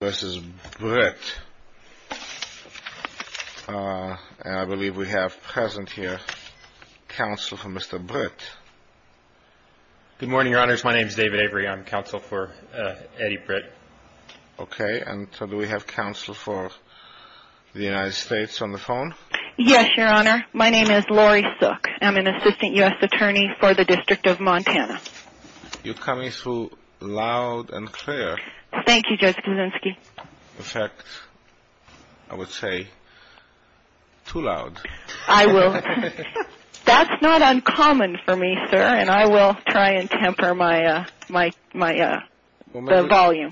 and I believe we have present here counsel for Mr. Britt. Good morning, your honors. My name is David Avery. I'm counsel for Eddie Britt. Okay. And so do we have counsel for the United States on the phone? Yes, your honor. My name is Lori Sook. I'm an assistant U.S. attorney for the District of Montana. You're coming through loud and clear. Thank you, Judge Kuczynski. In fact, I would say, too loud. I will. That's not uncommon for me, sir, and I will try and temper my volume.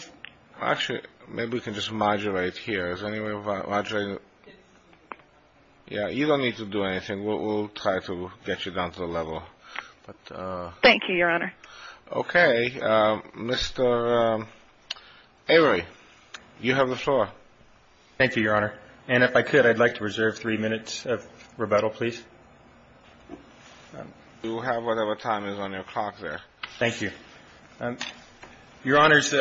Actually, maybe we can just modulate here. Is there any way of modulating? Yeah, you don't need to do anything. We'll try to get you down to the level. Thank you, your honor. Okay. Mr. Avery, you have the floor. Thank you, your honor. And if I could, I'd like to reserve three minutes of rebuttal, please. You have whatever time is on your clock there. Thank you. Your honors,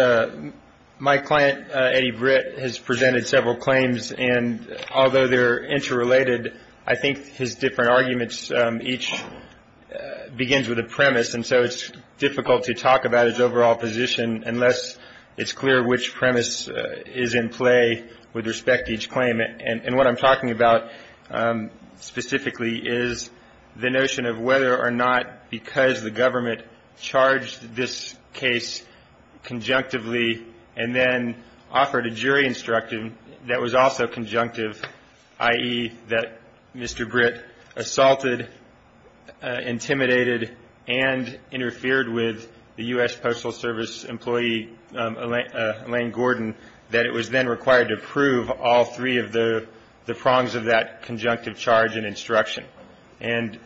my client, Eddie Britt, has presented several claims, and although they're interrelated, I think his different arguments each begins with a premise, and so it's difficult to talk about his overall position unless it's clear which premise is in play with respect to each claim. And what I'm talking about specifically is the notion of whether or not because the government charged this case conjunctively and then offered a jury instruction that was also conjunctive, i.e., that Mr. Britt assaulted, intimidated, and interfered with the U.S. Postal Service employee Elaine Gordon, that it was then required to approve all three of the prongs of that conjunctive charge and instruction. And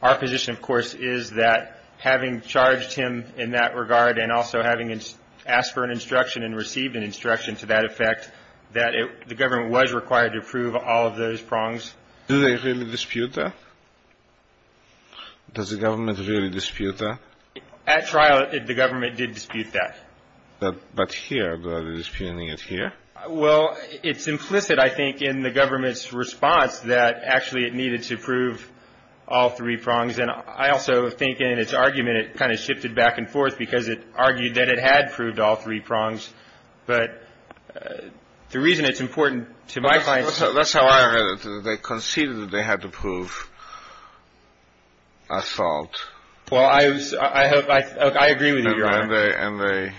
our position, of course, is that having charged him in that regard and also having asked for an instruction and received an instruction to that effect, that the government was required to approve all of those prongs. Do they really dispute that? Does the government really dispute that? At trial, the government did dispute that. But here, they're disputing it here? Well, it's implicit, I think, in the government's response that, actually, it needed to approve all three prongs. And I also think in its argument it kind of shifted back and forth because it argued that it had approved all three prongs. But the reason it's important to my mind — That's how I read it. They conceded that they had to approve assault. Well, I agree with you, Your Honor. And they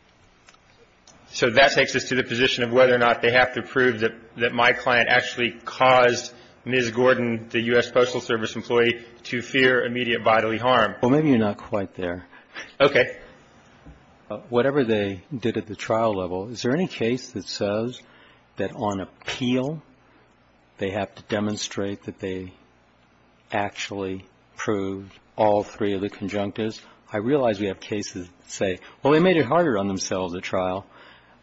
— So that takes us to the position of whether or not they have to prove that my client actually caused Ms. Gordon, the U.S. Postal Service employee, to fear immediate bodily harm. Well, maybe you're not quite there. Okay. Whatever they did at the trial level, is there any case that says that on appeal, they have to demonstrate that they actually approved all three of the conjunctives? Because I realize we have cases that say, well, they made it harder on themselves at trial.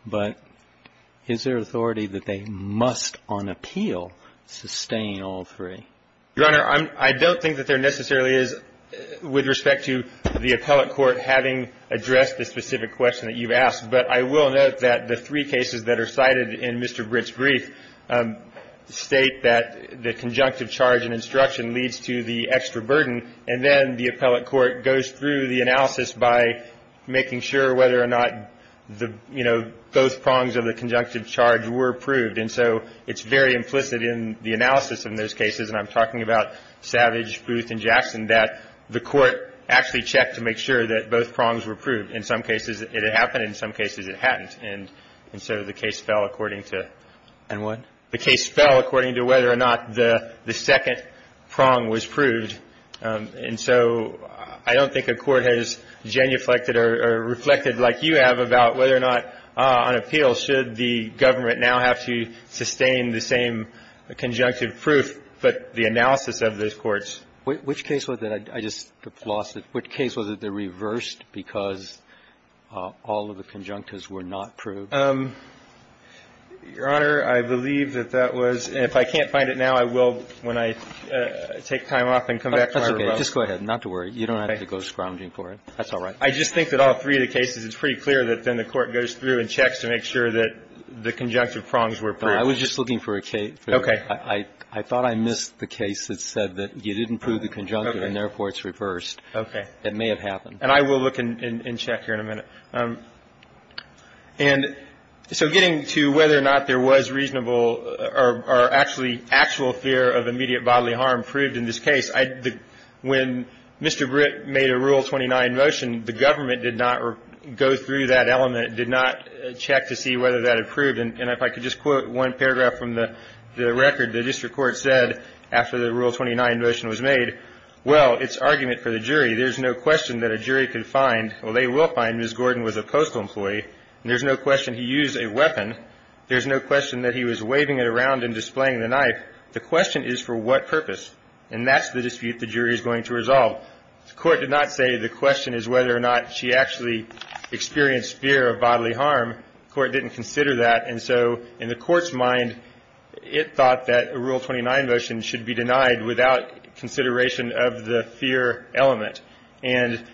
But is there authority that they must, on appeal, sustain all three? Your Honor, I don't think that there necessarily is with respect to the appellate court having addressed the specific question that you've asked. But I will note that the three cases that are cited in Mr. Britt's brief state that the conjunctive charge and instruction leads to the extra burden, and then the appellate court goes through the analysis by making sure whether or not the, you know, both prongs of the conjunctive charge were approved. And so it's very implicit in the analysis in those cases, and I'm talking about Savage, Booth, and Jackson, that the court actually checked to make sure that both prongs were approved. In some cases, it had happened. In some cases, it hadn't. And so the case fell according to — And what? The case fell according to whether or not the second prong was proved. And so I don't think a court has genuflected or reflected like you have about whether or not, on appeal, should the government now have to sustain the same conjunctive proof, but the analysis of those courts. Which case was it? I just lost it. Which case was it that reversed because all of the conjunctives were not proved? Your Honor, I believe that that was — and if I can't find it now, I will when I take time off and come back to my remote. That's okay. Just go ahead. Not to worry. You don't have to go scrounging for it. That's all right. I just think that all three of the cases, it's pretty clear that then the court goes through and checks to make sure that the conjunctive prongs were approved. I was just looking for a case. Okay. I thought I missed the case that said that you didn't prove the conjunctive, and therefore it's reversed. It may have happened. And I will look and check here in a minute. And so getting to whether or not there was reasonable or actually actual fear of immediate bodily harm proved in this case, when Mr. Britt made a Rule 29 motion, the government did not go through that element, did not check to see whether that approved. And if I could just quote one paragraph from the record, the district court said after the Rule 29 motion was made, well, it's argument for the jury. There's no question that a jury could find, well, they will find Ms. Gordon was a postal employee. And there's no question he used a weapon. There's no question that he was waving it around and displaying the knife. The question is for what purpose. And that's the dispute the jury is going to resolve. The court did not say the question is whether or not she actually experienced fear of bodily harm. The court didn't consider that. And so in the court's mind, it thought that a Rule 29 motion should be denied without consideration of the fear element. And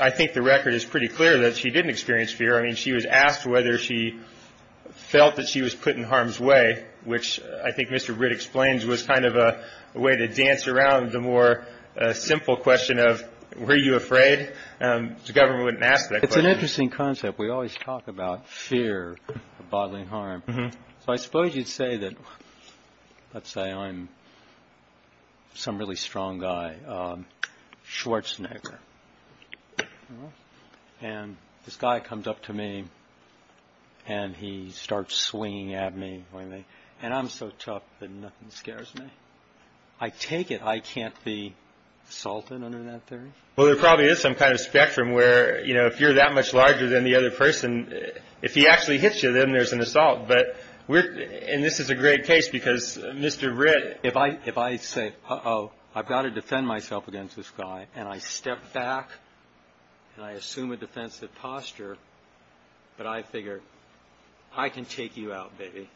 I think the record is pretty clear that she didn't experience fear. I mean, she was asked whether she felt that she was put in harm's way, which I think Mr. Britt explains was kind of a way to dance around the more simple question of were you afraid. The government wouldn't ask that question. It's an interesting concept. We always talk about fear of bodily harm. So I suppose you'd say that, let's say I'm some really strong guy, Schwarzenegger. And this guy comes up to me and he starts swinging at me. And I'm so tough that nothing scares me. I take it I can't be assaulted under that theory. Well, there probably is some kind of spectrum where, you know, if you're that much larger than the other person, if he actually hits you, then there's an assault. But we're in this is a great case because Mr. Britt, if I if I say, oh, I've got to defend myself against this guy. And I step back and I assume a defensive posture. But I figure I can take you out, baby.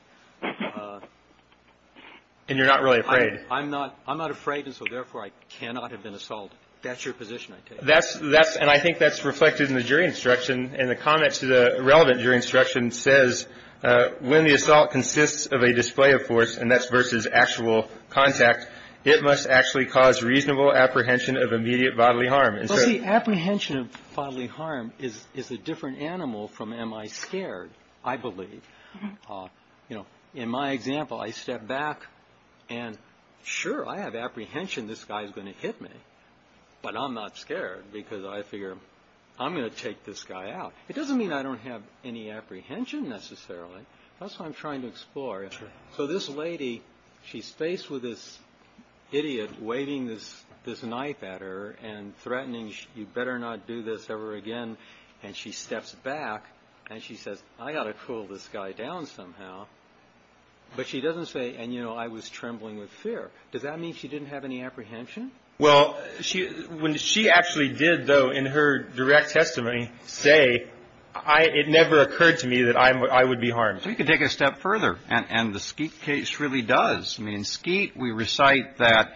And you're not really afraid. I'm not. I'm not afraid. So therefore I cannot have been assaulted. That's your position. That's that's. And I think that's reflected in the jury instruction. And the comments to the relevant jury instruction says when the assault consists of a display of force and that's versus actual contact, it must actually cause reasonable apprehension of immediate bodily harm. The apprehension of bodily harm is is a different animal from am I scared? I believe, you know, in my example, I step back and sure, I have apprehension. This guy is going to hit me, but I'm not scared because I figure I'm going to take this guy out. It doesn't mean I don't have any apprehension necessarily. That's what I'm trying to explore. So this lady, she's faced with this idiot waving this this knife at her and threatening, you better not do this ever again. And she steps back and she says, I got to pull this guy down somehow. But she doesn't say. And, you know, I was trembling with fear. Does that mean she didn't have any apprehension? Well, she when she actually did, though, in her direct testimony, say I it never occurred to me that I would be harmed. So you can take a step further. And the case really does mean skeet. We recite that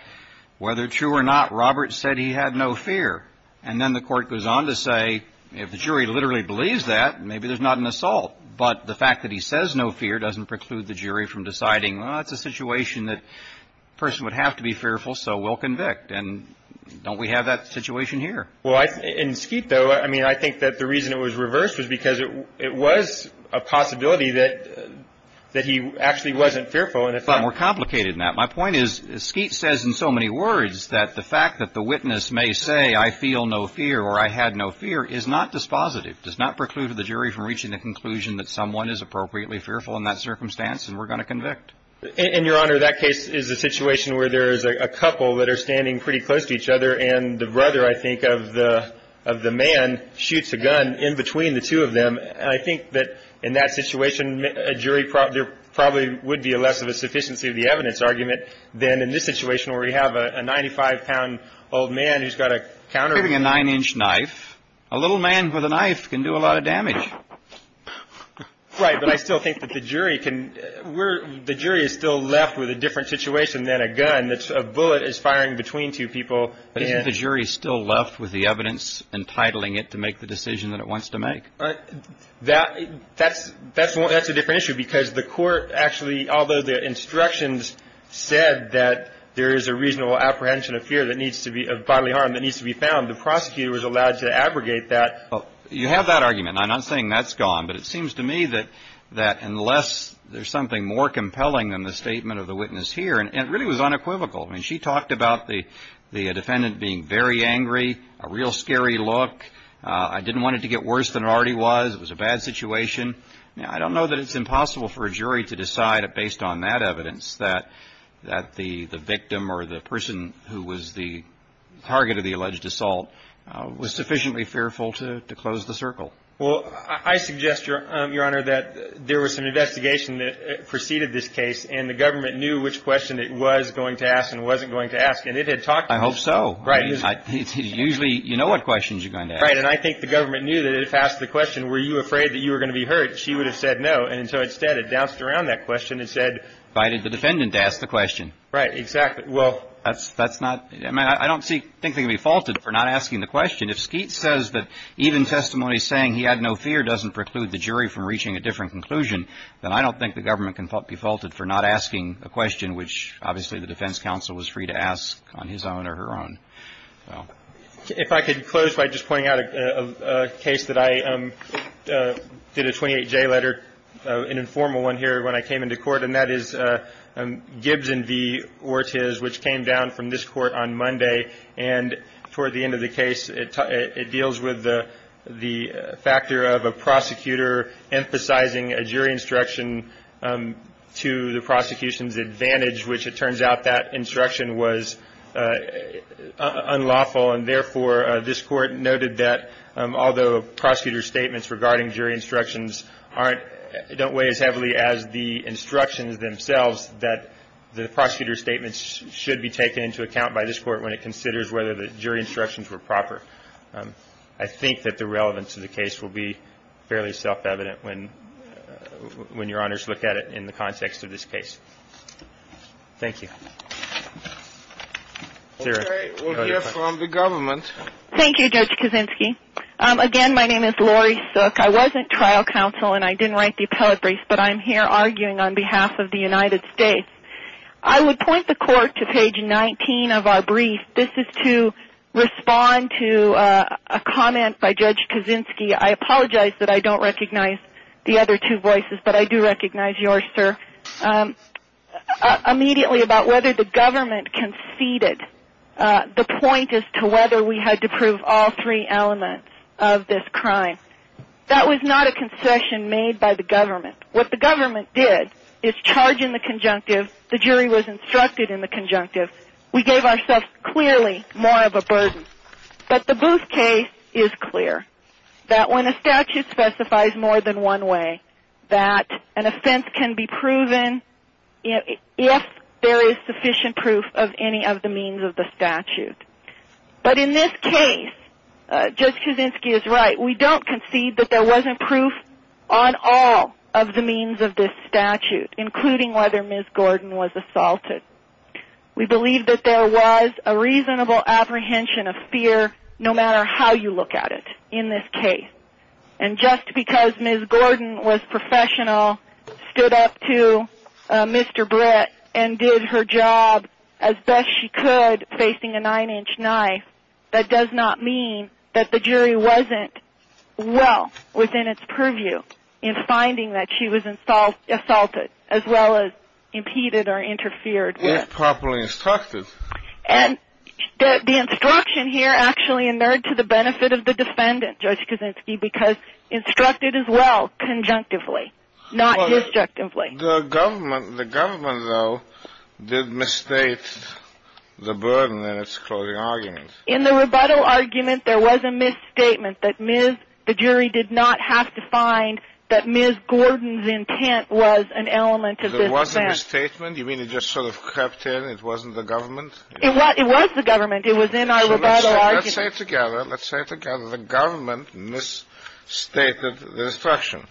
whether true or not, Robert said he had no fear. And then the court goes on to say, if the jury literally believes that, maybe there's not an assault. But the fact that he says no fear doesn't preclude the jury from deciding it's a situation that person would have to be fearful. So we'll convict. And don't we have that situation here? Well, in skeet, though, I mean, I think that the reason it was reversed was because it was a possibility that that he actually wasn't fearful. And it's a lot more complicated than that. My point is skeet says in so many words that the fact that the witness may say, I feel no fear or I had no fear is not dispositive, does not preclude the jury from reaching the conclusion that someone is appropriately fearful in that circumstance. And we're going to convict in your honor. That case is a situation where there is a couple that are standing pretty close to each other. And the brother, I think, of the of the man shoots a gun in between the two of them. And I think that in that situation, a jury probably there probably would be a less of a sufficiency of the evidence argument than in this situation where we have a ninety five pound old man who's got a countering a nine inch knife. A little man with a knife can do a lot of damage. Right. But I still think that the jury can. We're the jury is still left with a different situation than a gun. That's a bullet is firing between two people. The jury is still left with the evidence entitling it to make the decision that it wants to make that. That's that's that's a different issue because the court actually, although the instructions said that there is a reasonable apprehension of fear that needs to be of bodily harm that needs to be found. The prosecutor was allowed to abrogate that. You have that argument. I'm not saying that's gone, but it seems to me that that unless there's something more compelling than the statement of the witness here, and it really was unequivocal. I mean, she talked about the the defendant being very angry, a real scary look. I didn't want it to get worse than it already was. It was a bad situation. Now, I don't know that it's impossible for a jury to decide based on that evidence that that the the victim or the person who was the target of the alleged assault was sufficiently fearful to close the circle. Well, I suggest, Your Honor, that there was an investigation that preceded this case. And the government knew which question it was going to ask and wasn't going to ask. And it had talked. I hope so. Right. It's usually you know what questions you're going to write. And I think the government knew that if asked the question, were you afraid that you were going to be hurt? She would have said no. And so instead, it bounced around that question and said, why did the defendant ask the question? Right. Exactly. Well, that's that's not I mean, I don't think they can be faulted for not asking the question. If Skeet says that even testimony saying he had no fear doesn't preclude the jury from reaching a different conclusion, then I don't think the government can be faulted for not asking a question, which obviously the defense counsel was free to ask on his own or her own. So if I could close by just pointing out a case that I did a 28 J letter, an informal one here when I came into court. And that is Gibbs and V Ortiz, which came down from this court on Monday. And toward the end of the case, it deals with the factor of a prosecutor emphasizing a jury instruction to the prosecution's advantage, which it turns out that instruction was unlawful. And therefore, this court noted that although prosecutor statements regarding jury instructions aren't don't weigh as heavily as the instructions themselves, that the prosecutor's statements should be taken into account by this court when it considers whether the jury instructions were proper. I think that the relevance of the case will be fairly self-evident when when your honors look at it in the context of this case. Thank you. We'll hear from the government. Thank you, Judge Kaczynski. Again, my name is Lori Sook. I wasn't trial counsel and I didn't write the appellate brief, but I'm here arguing on behalf of the United States. I would point the court to page 19 of our brief. This is to respond to a comment by Judge Kaczynski. I apologize that I don't recognize the other two voices, but I do recognize yours, sir. Immediately about whether the government conceded the point as to whether we had to prove all three elements of this crime. That was not a concession made by the government. What the government did is charge in the conjunctive. The jury was instructed in the conjunctive. We gave ourselves clearly more of a burden. But the Booth case is clear that when a statute specifies more than one way that an offense can be proven if there is sufficient proof of any of the means of the statute. But in this case, Judge Kaczynski is right. We don't concede that there wasn't proof on all of the means of this statute, including whether Ms. Gordon was assaulted. We believe that there was a reasonable apprehension of fear no matter how you look at it in this case. And just because Ms. Gordon was professional, stood up to Mr. Britt, and did her job as best she could facing a nine-inch knife, that does not mean that the jury wasn't well within its purview in finding that she was assaulted as well as impeded or interfered with. If properly instructed. And the instruction here actually inerred to the benefit of the defendant, Judge Kaczynski, because instructed as well conjunctively, not disjunctively. The government, though, did misstate the burden in its closing argument. In the rebuttal argument, there was a misstatement that the jury did not have to find that Ms. Gordon's intent was an element of this offense. There was a misstatement? You mean it just sort of crept in? It wasn't the government? It was the government. It was in our rebuttal argument. Let's say it together. Let's say it together. The government misstated the instruction.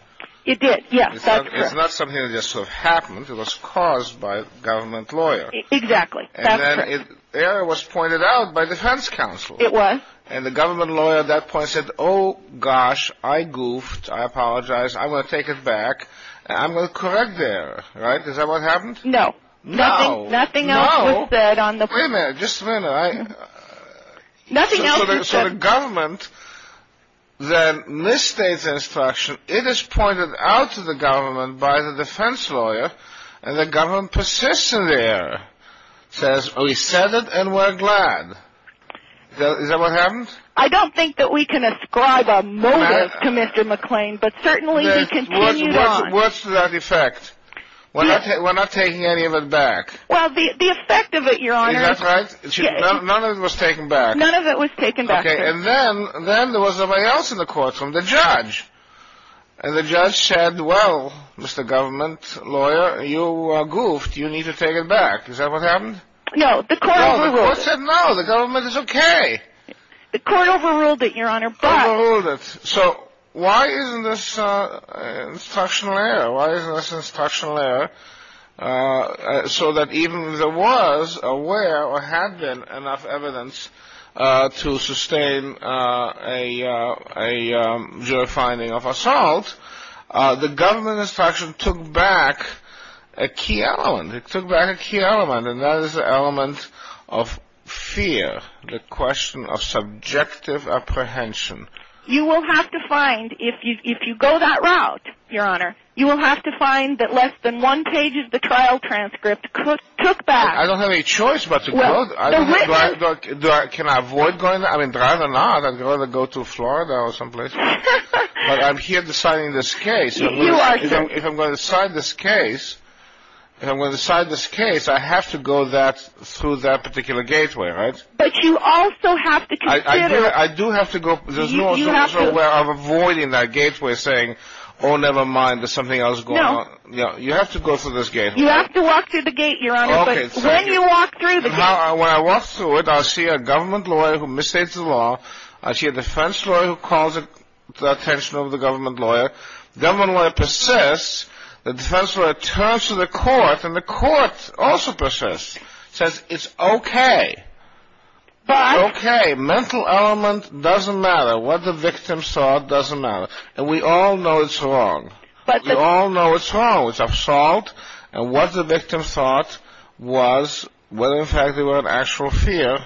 It did. Yes. That's correct. It's not something that just sort of happened. It was caused by a government lawyer. Exactly. That's correct. And then it was pointed out by defense counsel. It was. And the government lawyer at that point said, oh, gosh, I goofed. I apologize. I'm going to take it back. I'm going to correct the error. Right? Is that what happened? No. Nothing else was said on the point. Wait a minute. Just a minute. Nothing else was said. So the government then misstates the instruction. It is pointed out to the government by the defense lawyer, and the government persists in the error. Says, we said it and we're glad. Is that what happened? I don't think that we can ascribe a motive to Mr. McClain, but certainly he continued on. What's to that effect? We're not taking any of it back. Well, the effect of it, Your Honor. Is that right? None of it was taken back. None of it was taken back. Okay. And then there was somebody else in the courtroom, the judge. And the judge said, well, Mr. Government Lawyer, you goofed. You need to take it back. Is that what happened? No. The court overruled it. No. The court said no. The government is okay. The court overruled it, Your Honor. Overruled it. So why isn't this instructional error? Why isn't this instructional error? So that even if there was, or were, or had been enough evidence to sustain a jury finding of assault, the government instruction took back a key element. It took back a key element, and that is the element of fear, the question of subjective apprehension. You will have to find, if you go that route, Your Honor, you will have to find that less than one page of the trial transcript took back. I don't have any choice but to go. Can I avoid going? I mean, rather not. I'd rather go to Florida or someplace. But I'm here deciding this case. You are, sir. If I'm going to decide this case, if I'm going to decide this case, I have to go through that particular gateway, right? But you also have to consider... I do have to go... You have to... I'm avoiding that gateway, saying, oh, never mind, there's something else going on. No. You have to go through this gateway. You have to walk through the gate, Your Honor, but when you walk through the gate... Now, when I walk through it, I see a government lawyer who misstates the law. I see a defense lawyer who calls the attention of the government lawyer. The government lawyer persists. The defense lawyer turns to the court, and the court also persists. It says it's okay. It's okay. Mental element doesn't matter. What the victim thought doesn't matter. And we all know it's wrong. We all know it's wrong. It's absolute. And what the victim thought was, whether in fact they were in actual fear,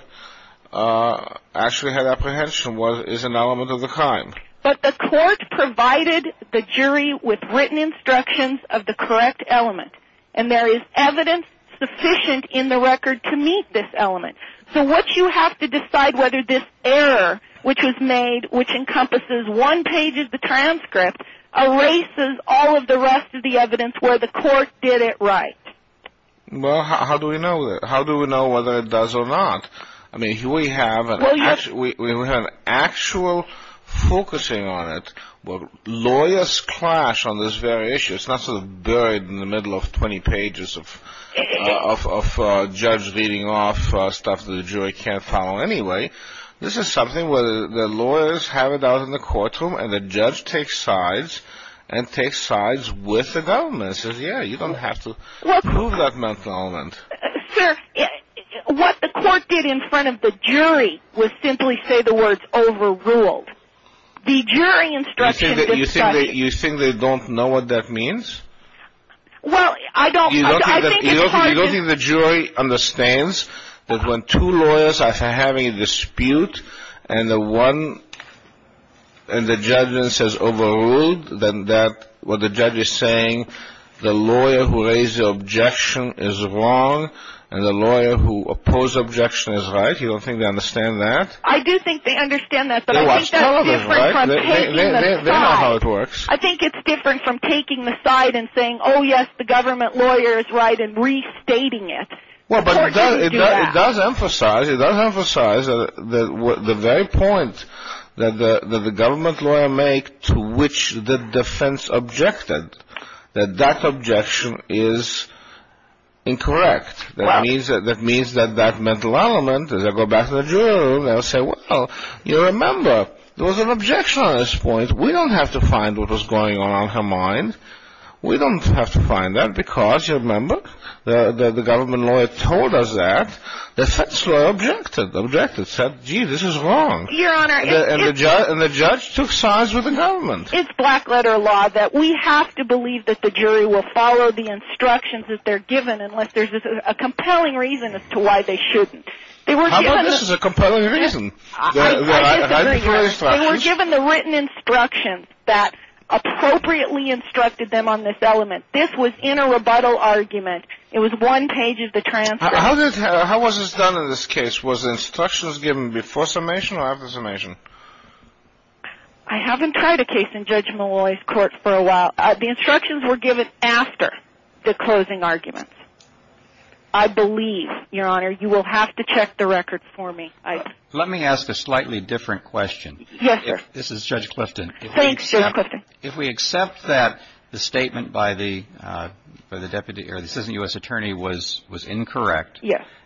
actually had apprehension, is an element of the crime. But the court provided the jury with written instructions of the correct element. And there is evidence sufficient in the record to meet this element. So what you have to decide whether this error, which was made, which encompasses one page of the transcript, erases all of the rest of the evidence where the court did it right. Well, how do we know that? How do we know whether it does or not? I mean, we have an actual focusing on it. Lawyers clash on this very issue. It's not sort of buried in the middle of 20 pages of judge reading off stuff that the jury can't follow anyway. This is something where the lawyers have it out in the courtroom, and the judge takes sides and takes sides with the government and says, yeah, you don't have to prove that mental element. Sir, what the court did in front of the jury was simply say the words overruled. You think they don't know what that means? Well, I don't. You don't think the jury understands that when two lawyers are having a dispute, and the judge says overruled, then what the judge is saying, the lawyer who raised the objection is wrong, and the lawyer who opposed the objection is right? You don't think they understand that? I do think they understand that. But I think that's different from taking the side. They know how it works. I think it's different from taking the side and saying, oh, yes, the government lawyer is right, and restating it. The court doesn't do that. It does emphasize the very point that the government lawyer made to which the defense objected, that that objection is incorrect. That means that that mental element, as I go back to the jury room, they'll say, well, you remember there was an objection on this point. We don't have to find what was going on in her mind. We don't have to find that because, you remember, the government lawyer told us that. The defense lawyer objected, said, gee, this is wrong. And the judge took sides with the government. It's black-letter law that we have to believe that the jury will follow the instructions that they're given unless there's a compelling reason as to why they shouldn't. How about this is a compelling reason? They were given the written instructions that appropriately instructed them on this element. This was in a rebuttal argument. It was one page of the transcript. How was this done in this case? Was the instructions given before summation or after summation? I haven't tried a case in Judge Malloy's court for a while. The instructions were given after the closing arguments. I believe, Your Honor, you will have to check the records for me. Let me ask a slightly different question. Yes, sir. This is Judge Clifton. Thanks, Judge Clifton. If we accept that the statement by the deputy or the citizen U.S. attorney was incorrect,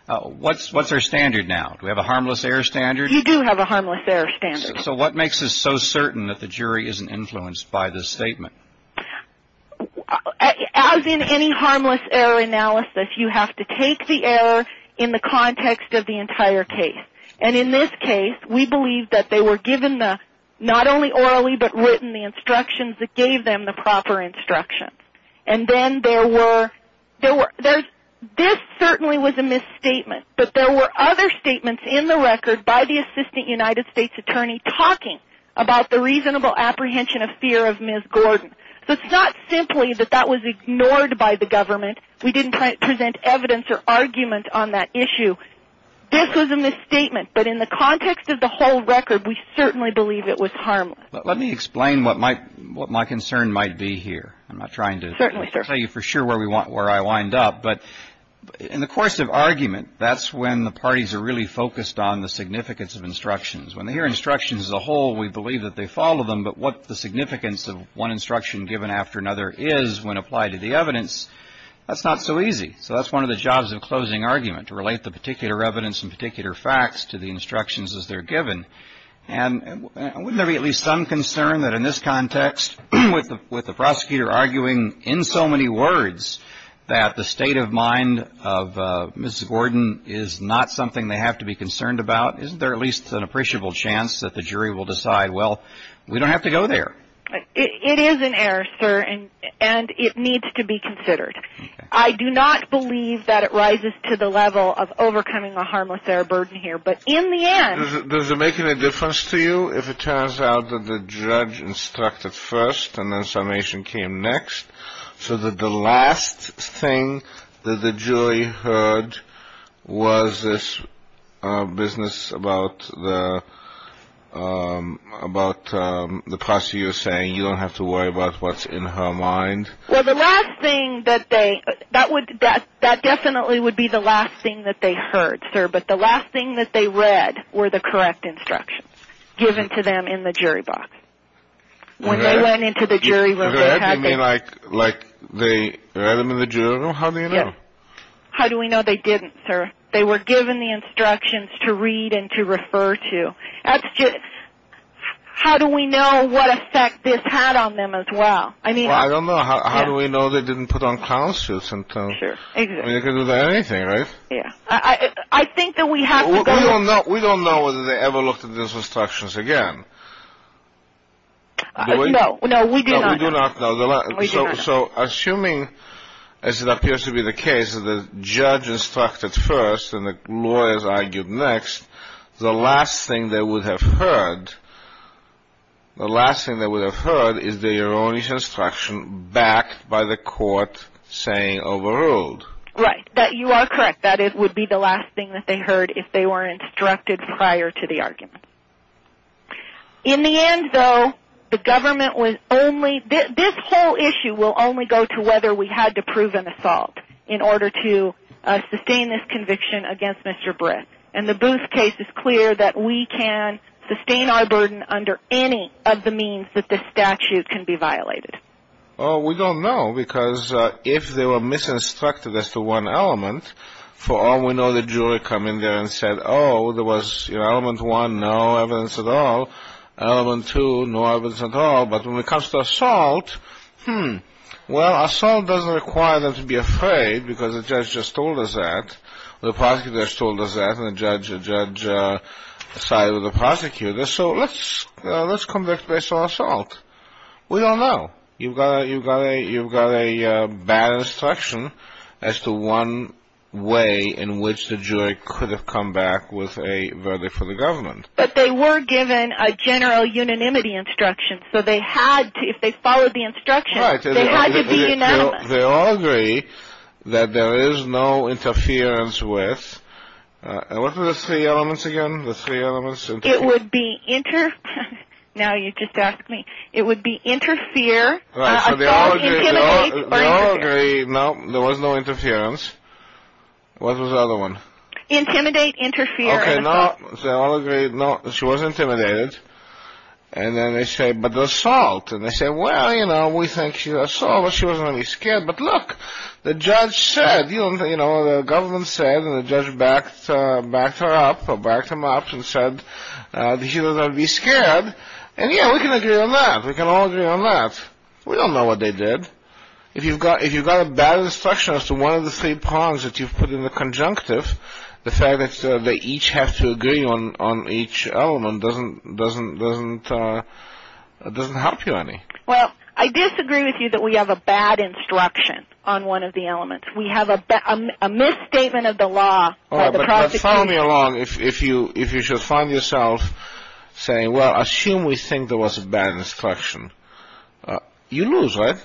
what's our standard now? Do we have a harmless error standard? We do have a harmless error standard. So what makes us so certain that the jury isn't influenced by this statement? As in any harmless error analysis, you have to take the error in the context of the entire case. In this case, we believe that they were given not only orally but written the instructions that gave them the proper instructions. This certainly was a misstatement. But there were other statements in the record by the assistant United States attorney talking about the reasonable apprehension of fear of Ms. Gordon. So it's not simply that that was ignored by the government. We didn't present evidence or argument on that issue. This was a misstatement. But in the context of the whole record, we certainly believe it was harmless. Let me explain what my concern might be here. I'm not trying to tell you for sure where I wind up. But in the course of argument, that's when the parties are really focused on the significance of instructions. When they hear instructions as a whole, we believe that they follow them. But what the significance of one instruction given after another is when applied to the evidence, that's not so easy. So that's one of the jobs of closing argument, to relate the particular evidence and particular facts to the instructions as they're given. And wouldn't there be at least some concern that in this context, with the prosecutor arguing in so many words, that the state of mind of Ms. Gordon is not something they have to be concerned about? Isn't there at least an appreciable chance that the jury will decide, well, we don't have to go there? It is an error, sir, and it needs to be considered. I do not believe that it rises to the level of overcoming a harmless error burden here. Does it make any difference to you if it turns out that the judge instructed first and then summation came next, so that the last thing that the jury heard was this business about the prosecutor saying, you don't have to worry about what's in her mind? Well, that definitely would be the last thing that they heard, sir. But the last thing that they read were the correct instructions given to them in the jury box. When they went into the jury room, they had to... You mean like they read them in the jury room? How do you know? How do we know they didn't, sir? They were given the instructions to read and to refer to. How do we know what effect this had on them as well? Well, I don't know. How do we know they didn't put on clown suits? Sure, exactly. I mean, you can do that with anything, right? I think that we have to go... We don't know whether they ever looked at those instructions again. No, we do not know. So, assuming as it appears to be the case that the judge instructed first and the lawyers argued next, the last thing they would have heard is the erroneous instruction backed by the court saying overruled. Right. You are correct. That would be the last thing that they heard if they were instructed prior to the argument. In the end, though, the government was only... This whole issue will only go to whether we had to prove an assault in order to sustain this conviction against Mr. Britt. And the Booth case is clear that we can sustain our burden under any of the means that this statute can be violated. Well, we don't know because if they were misinstructed as to one element, for all we know the jury come in there and said, oh, there was element one, no evidence at all, element two, no evidence at all, but when it comes to assault, hmm, well, assault doesn't require them to be afraid because the judge just told us that, the prosecutor just told us that, and the judge sided with the prosecutor. So let's convict based on assault. We don't know. You've got a bad instruction as to one way in which the jury could have come back with a verdict for the government. But they were given a general unanimity instruction. So they had to, if they followed the instruction, they had to be unanimous. They all agree that there is no interference with, what were the three elements again? It would be, now you just asked me, it would be interfere, adult intimidate, or interfere. They all agree, no, there was no interference. What was the other one? Intimidate, interfere, and assault. They all agree, no, she was intimidated. And then they say, but the assault. And they say, well, you know, we think she's assault, but she wasn't really scared. But look, the judge said, you know, the government said, and the judge backed her up, or backed him up, and said that she doesn't have to be scared. And yeah, we can agree on that. We can all agree on that. We don't know what they did. If you've got a bad instruction as to one of the three prongs that you've put in the conjunctive, the fact that they each have to agree on each element doesn't help you any. Well, I disagree with you that we have a bad instruction on one of the elements. We have a misstatement of the law. All right, but follow me along. If you should find yourself saying, well, assume we think there was a bad instruction, you lose, right?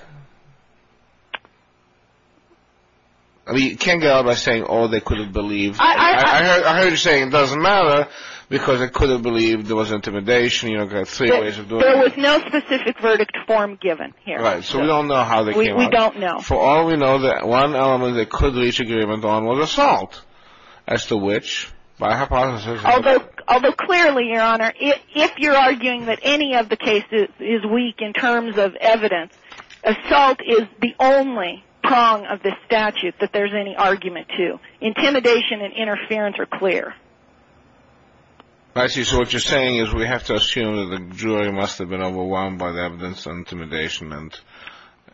I mean, you can't get out by saying, oh, they couldn't believe. I heard you saying it doesn't matter because they couldn't believe there was intimidation. There was no specific verdict form given here. Right, so we don't know how they came out. We don't know. For all we know, the one element they could reach agreement on was assault, as to which, by hypothesis. Although clearly, Your Honor, if you're arguing that any of the cases is weak in terms of evidence, assault is the only prong of this statute that there's any argument to. Intimidation and interference are clear. I see. So what you're saying is we have to assume that the jury must have been overwhelmed by the evidence of intimidation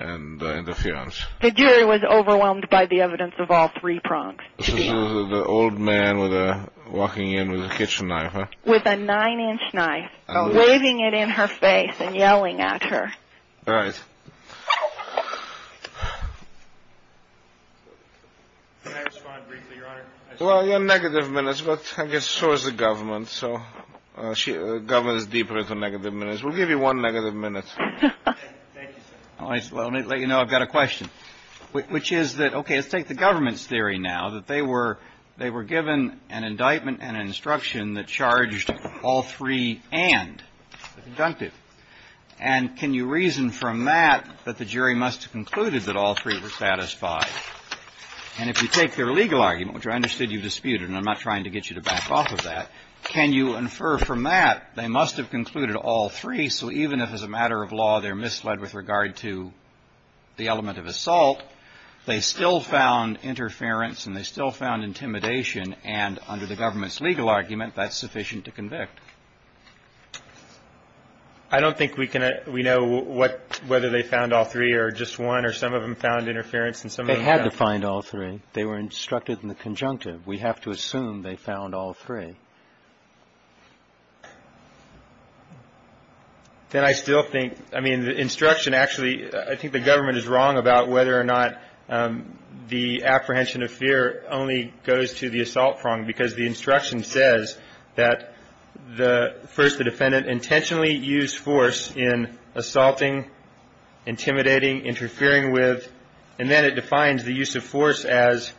and interference. The jury was overwhelmed by the evidence of all three prongs. The old man walking in with a kitchen knife. With a nine-inch knife, waving it in her face and yelling at her. Right. Can I respond briefly, Your Honor? Well, you're on negative minutes, but I guess so is the government. So the government is deeper into negative minutes. We'll give you one negative minute. Thank you, sir. Let me let you know I've got a question, which is that, okay, let's take the government's theory now, that they were given an indictment and an instruction that charged all three and the conductive. And can you reason from that that the jury must have concluded that all three were satisfied? And if you take their legal argument, which I understood you disputed, and I'm not trying to get you to back off of that, can you infer from that they must have concluded all three, so even if as a matter of law they're misled with regard to the element of assault, they still found interference and they still found intimidation, and under the government's legal argument, that's sufficient to convict? I don't think we can we know what whether they found all three or just one or some of them found interference They had to find all three. They were instructed in the conjunctive. We have to assume they found all three. Then I still think, I mean, the instruction actually, I think the government is wrong about whether or not the apprehension of fear only goes to the assault prong because the instruction says that the first the defendant intentionally used force in assaulting, intimidating, interfering with, and then it defines the use of force as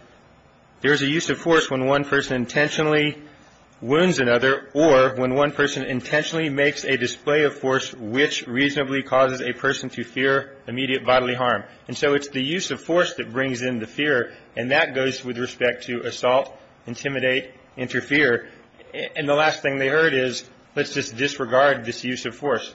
there is a use of force when one person intentionally wounds another or when one person intentionally makes a display of force which reasonably causes a person to fear immediate bodily harm. And so it's the use of force that brings in the fear, and that goes with respect to assault, intimidate, interfere. And the last thing they heard is let's just disregard this use of force.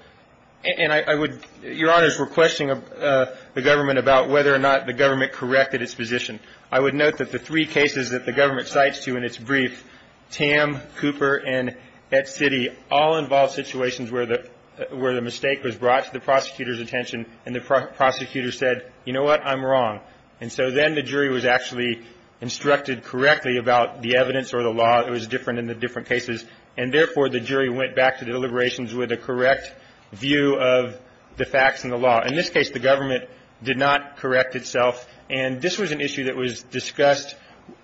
And I would, Your Honors, we're questioning the government about whether or not the government corrected its position. I would note that the three cases that the government cites to in its brief, Tam, Cooper, and Et City all involve situations where the mistake was brought to the prosecutor's attention and the prosecutor said, you know what, I'm wrong. And so then the jury was actually instructed correctly about the evidence or the law. It was different in the different cases. And therefore, the jury went back to the deliberations with a correct view of the facts and the law. In this case, the government did not correct itself. And this was an issue that was discussed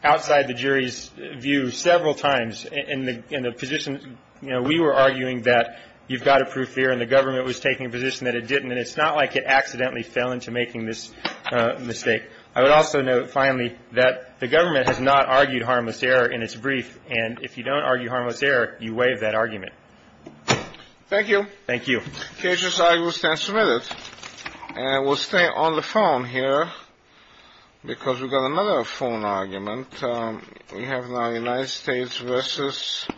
outside the jury's view several times in the position, you know, we were arguing that you've got to prove fear, and the government was taking a position that it didn't. And it's not like it accidentally fell into making this mistake. I would also note, finally, that the government has not argued harmless error in its brief. And if you don't argue harmless error, you waive that argument. Thank you. Thank you. The case has now been submitted. And we'll stay on the phone here because we've got another phone argument. We have now United States v.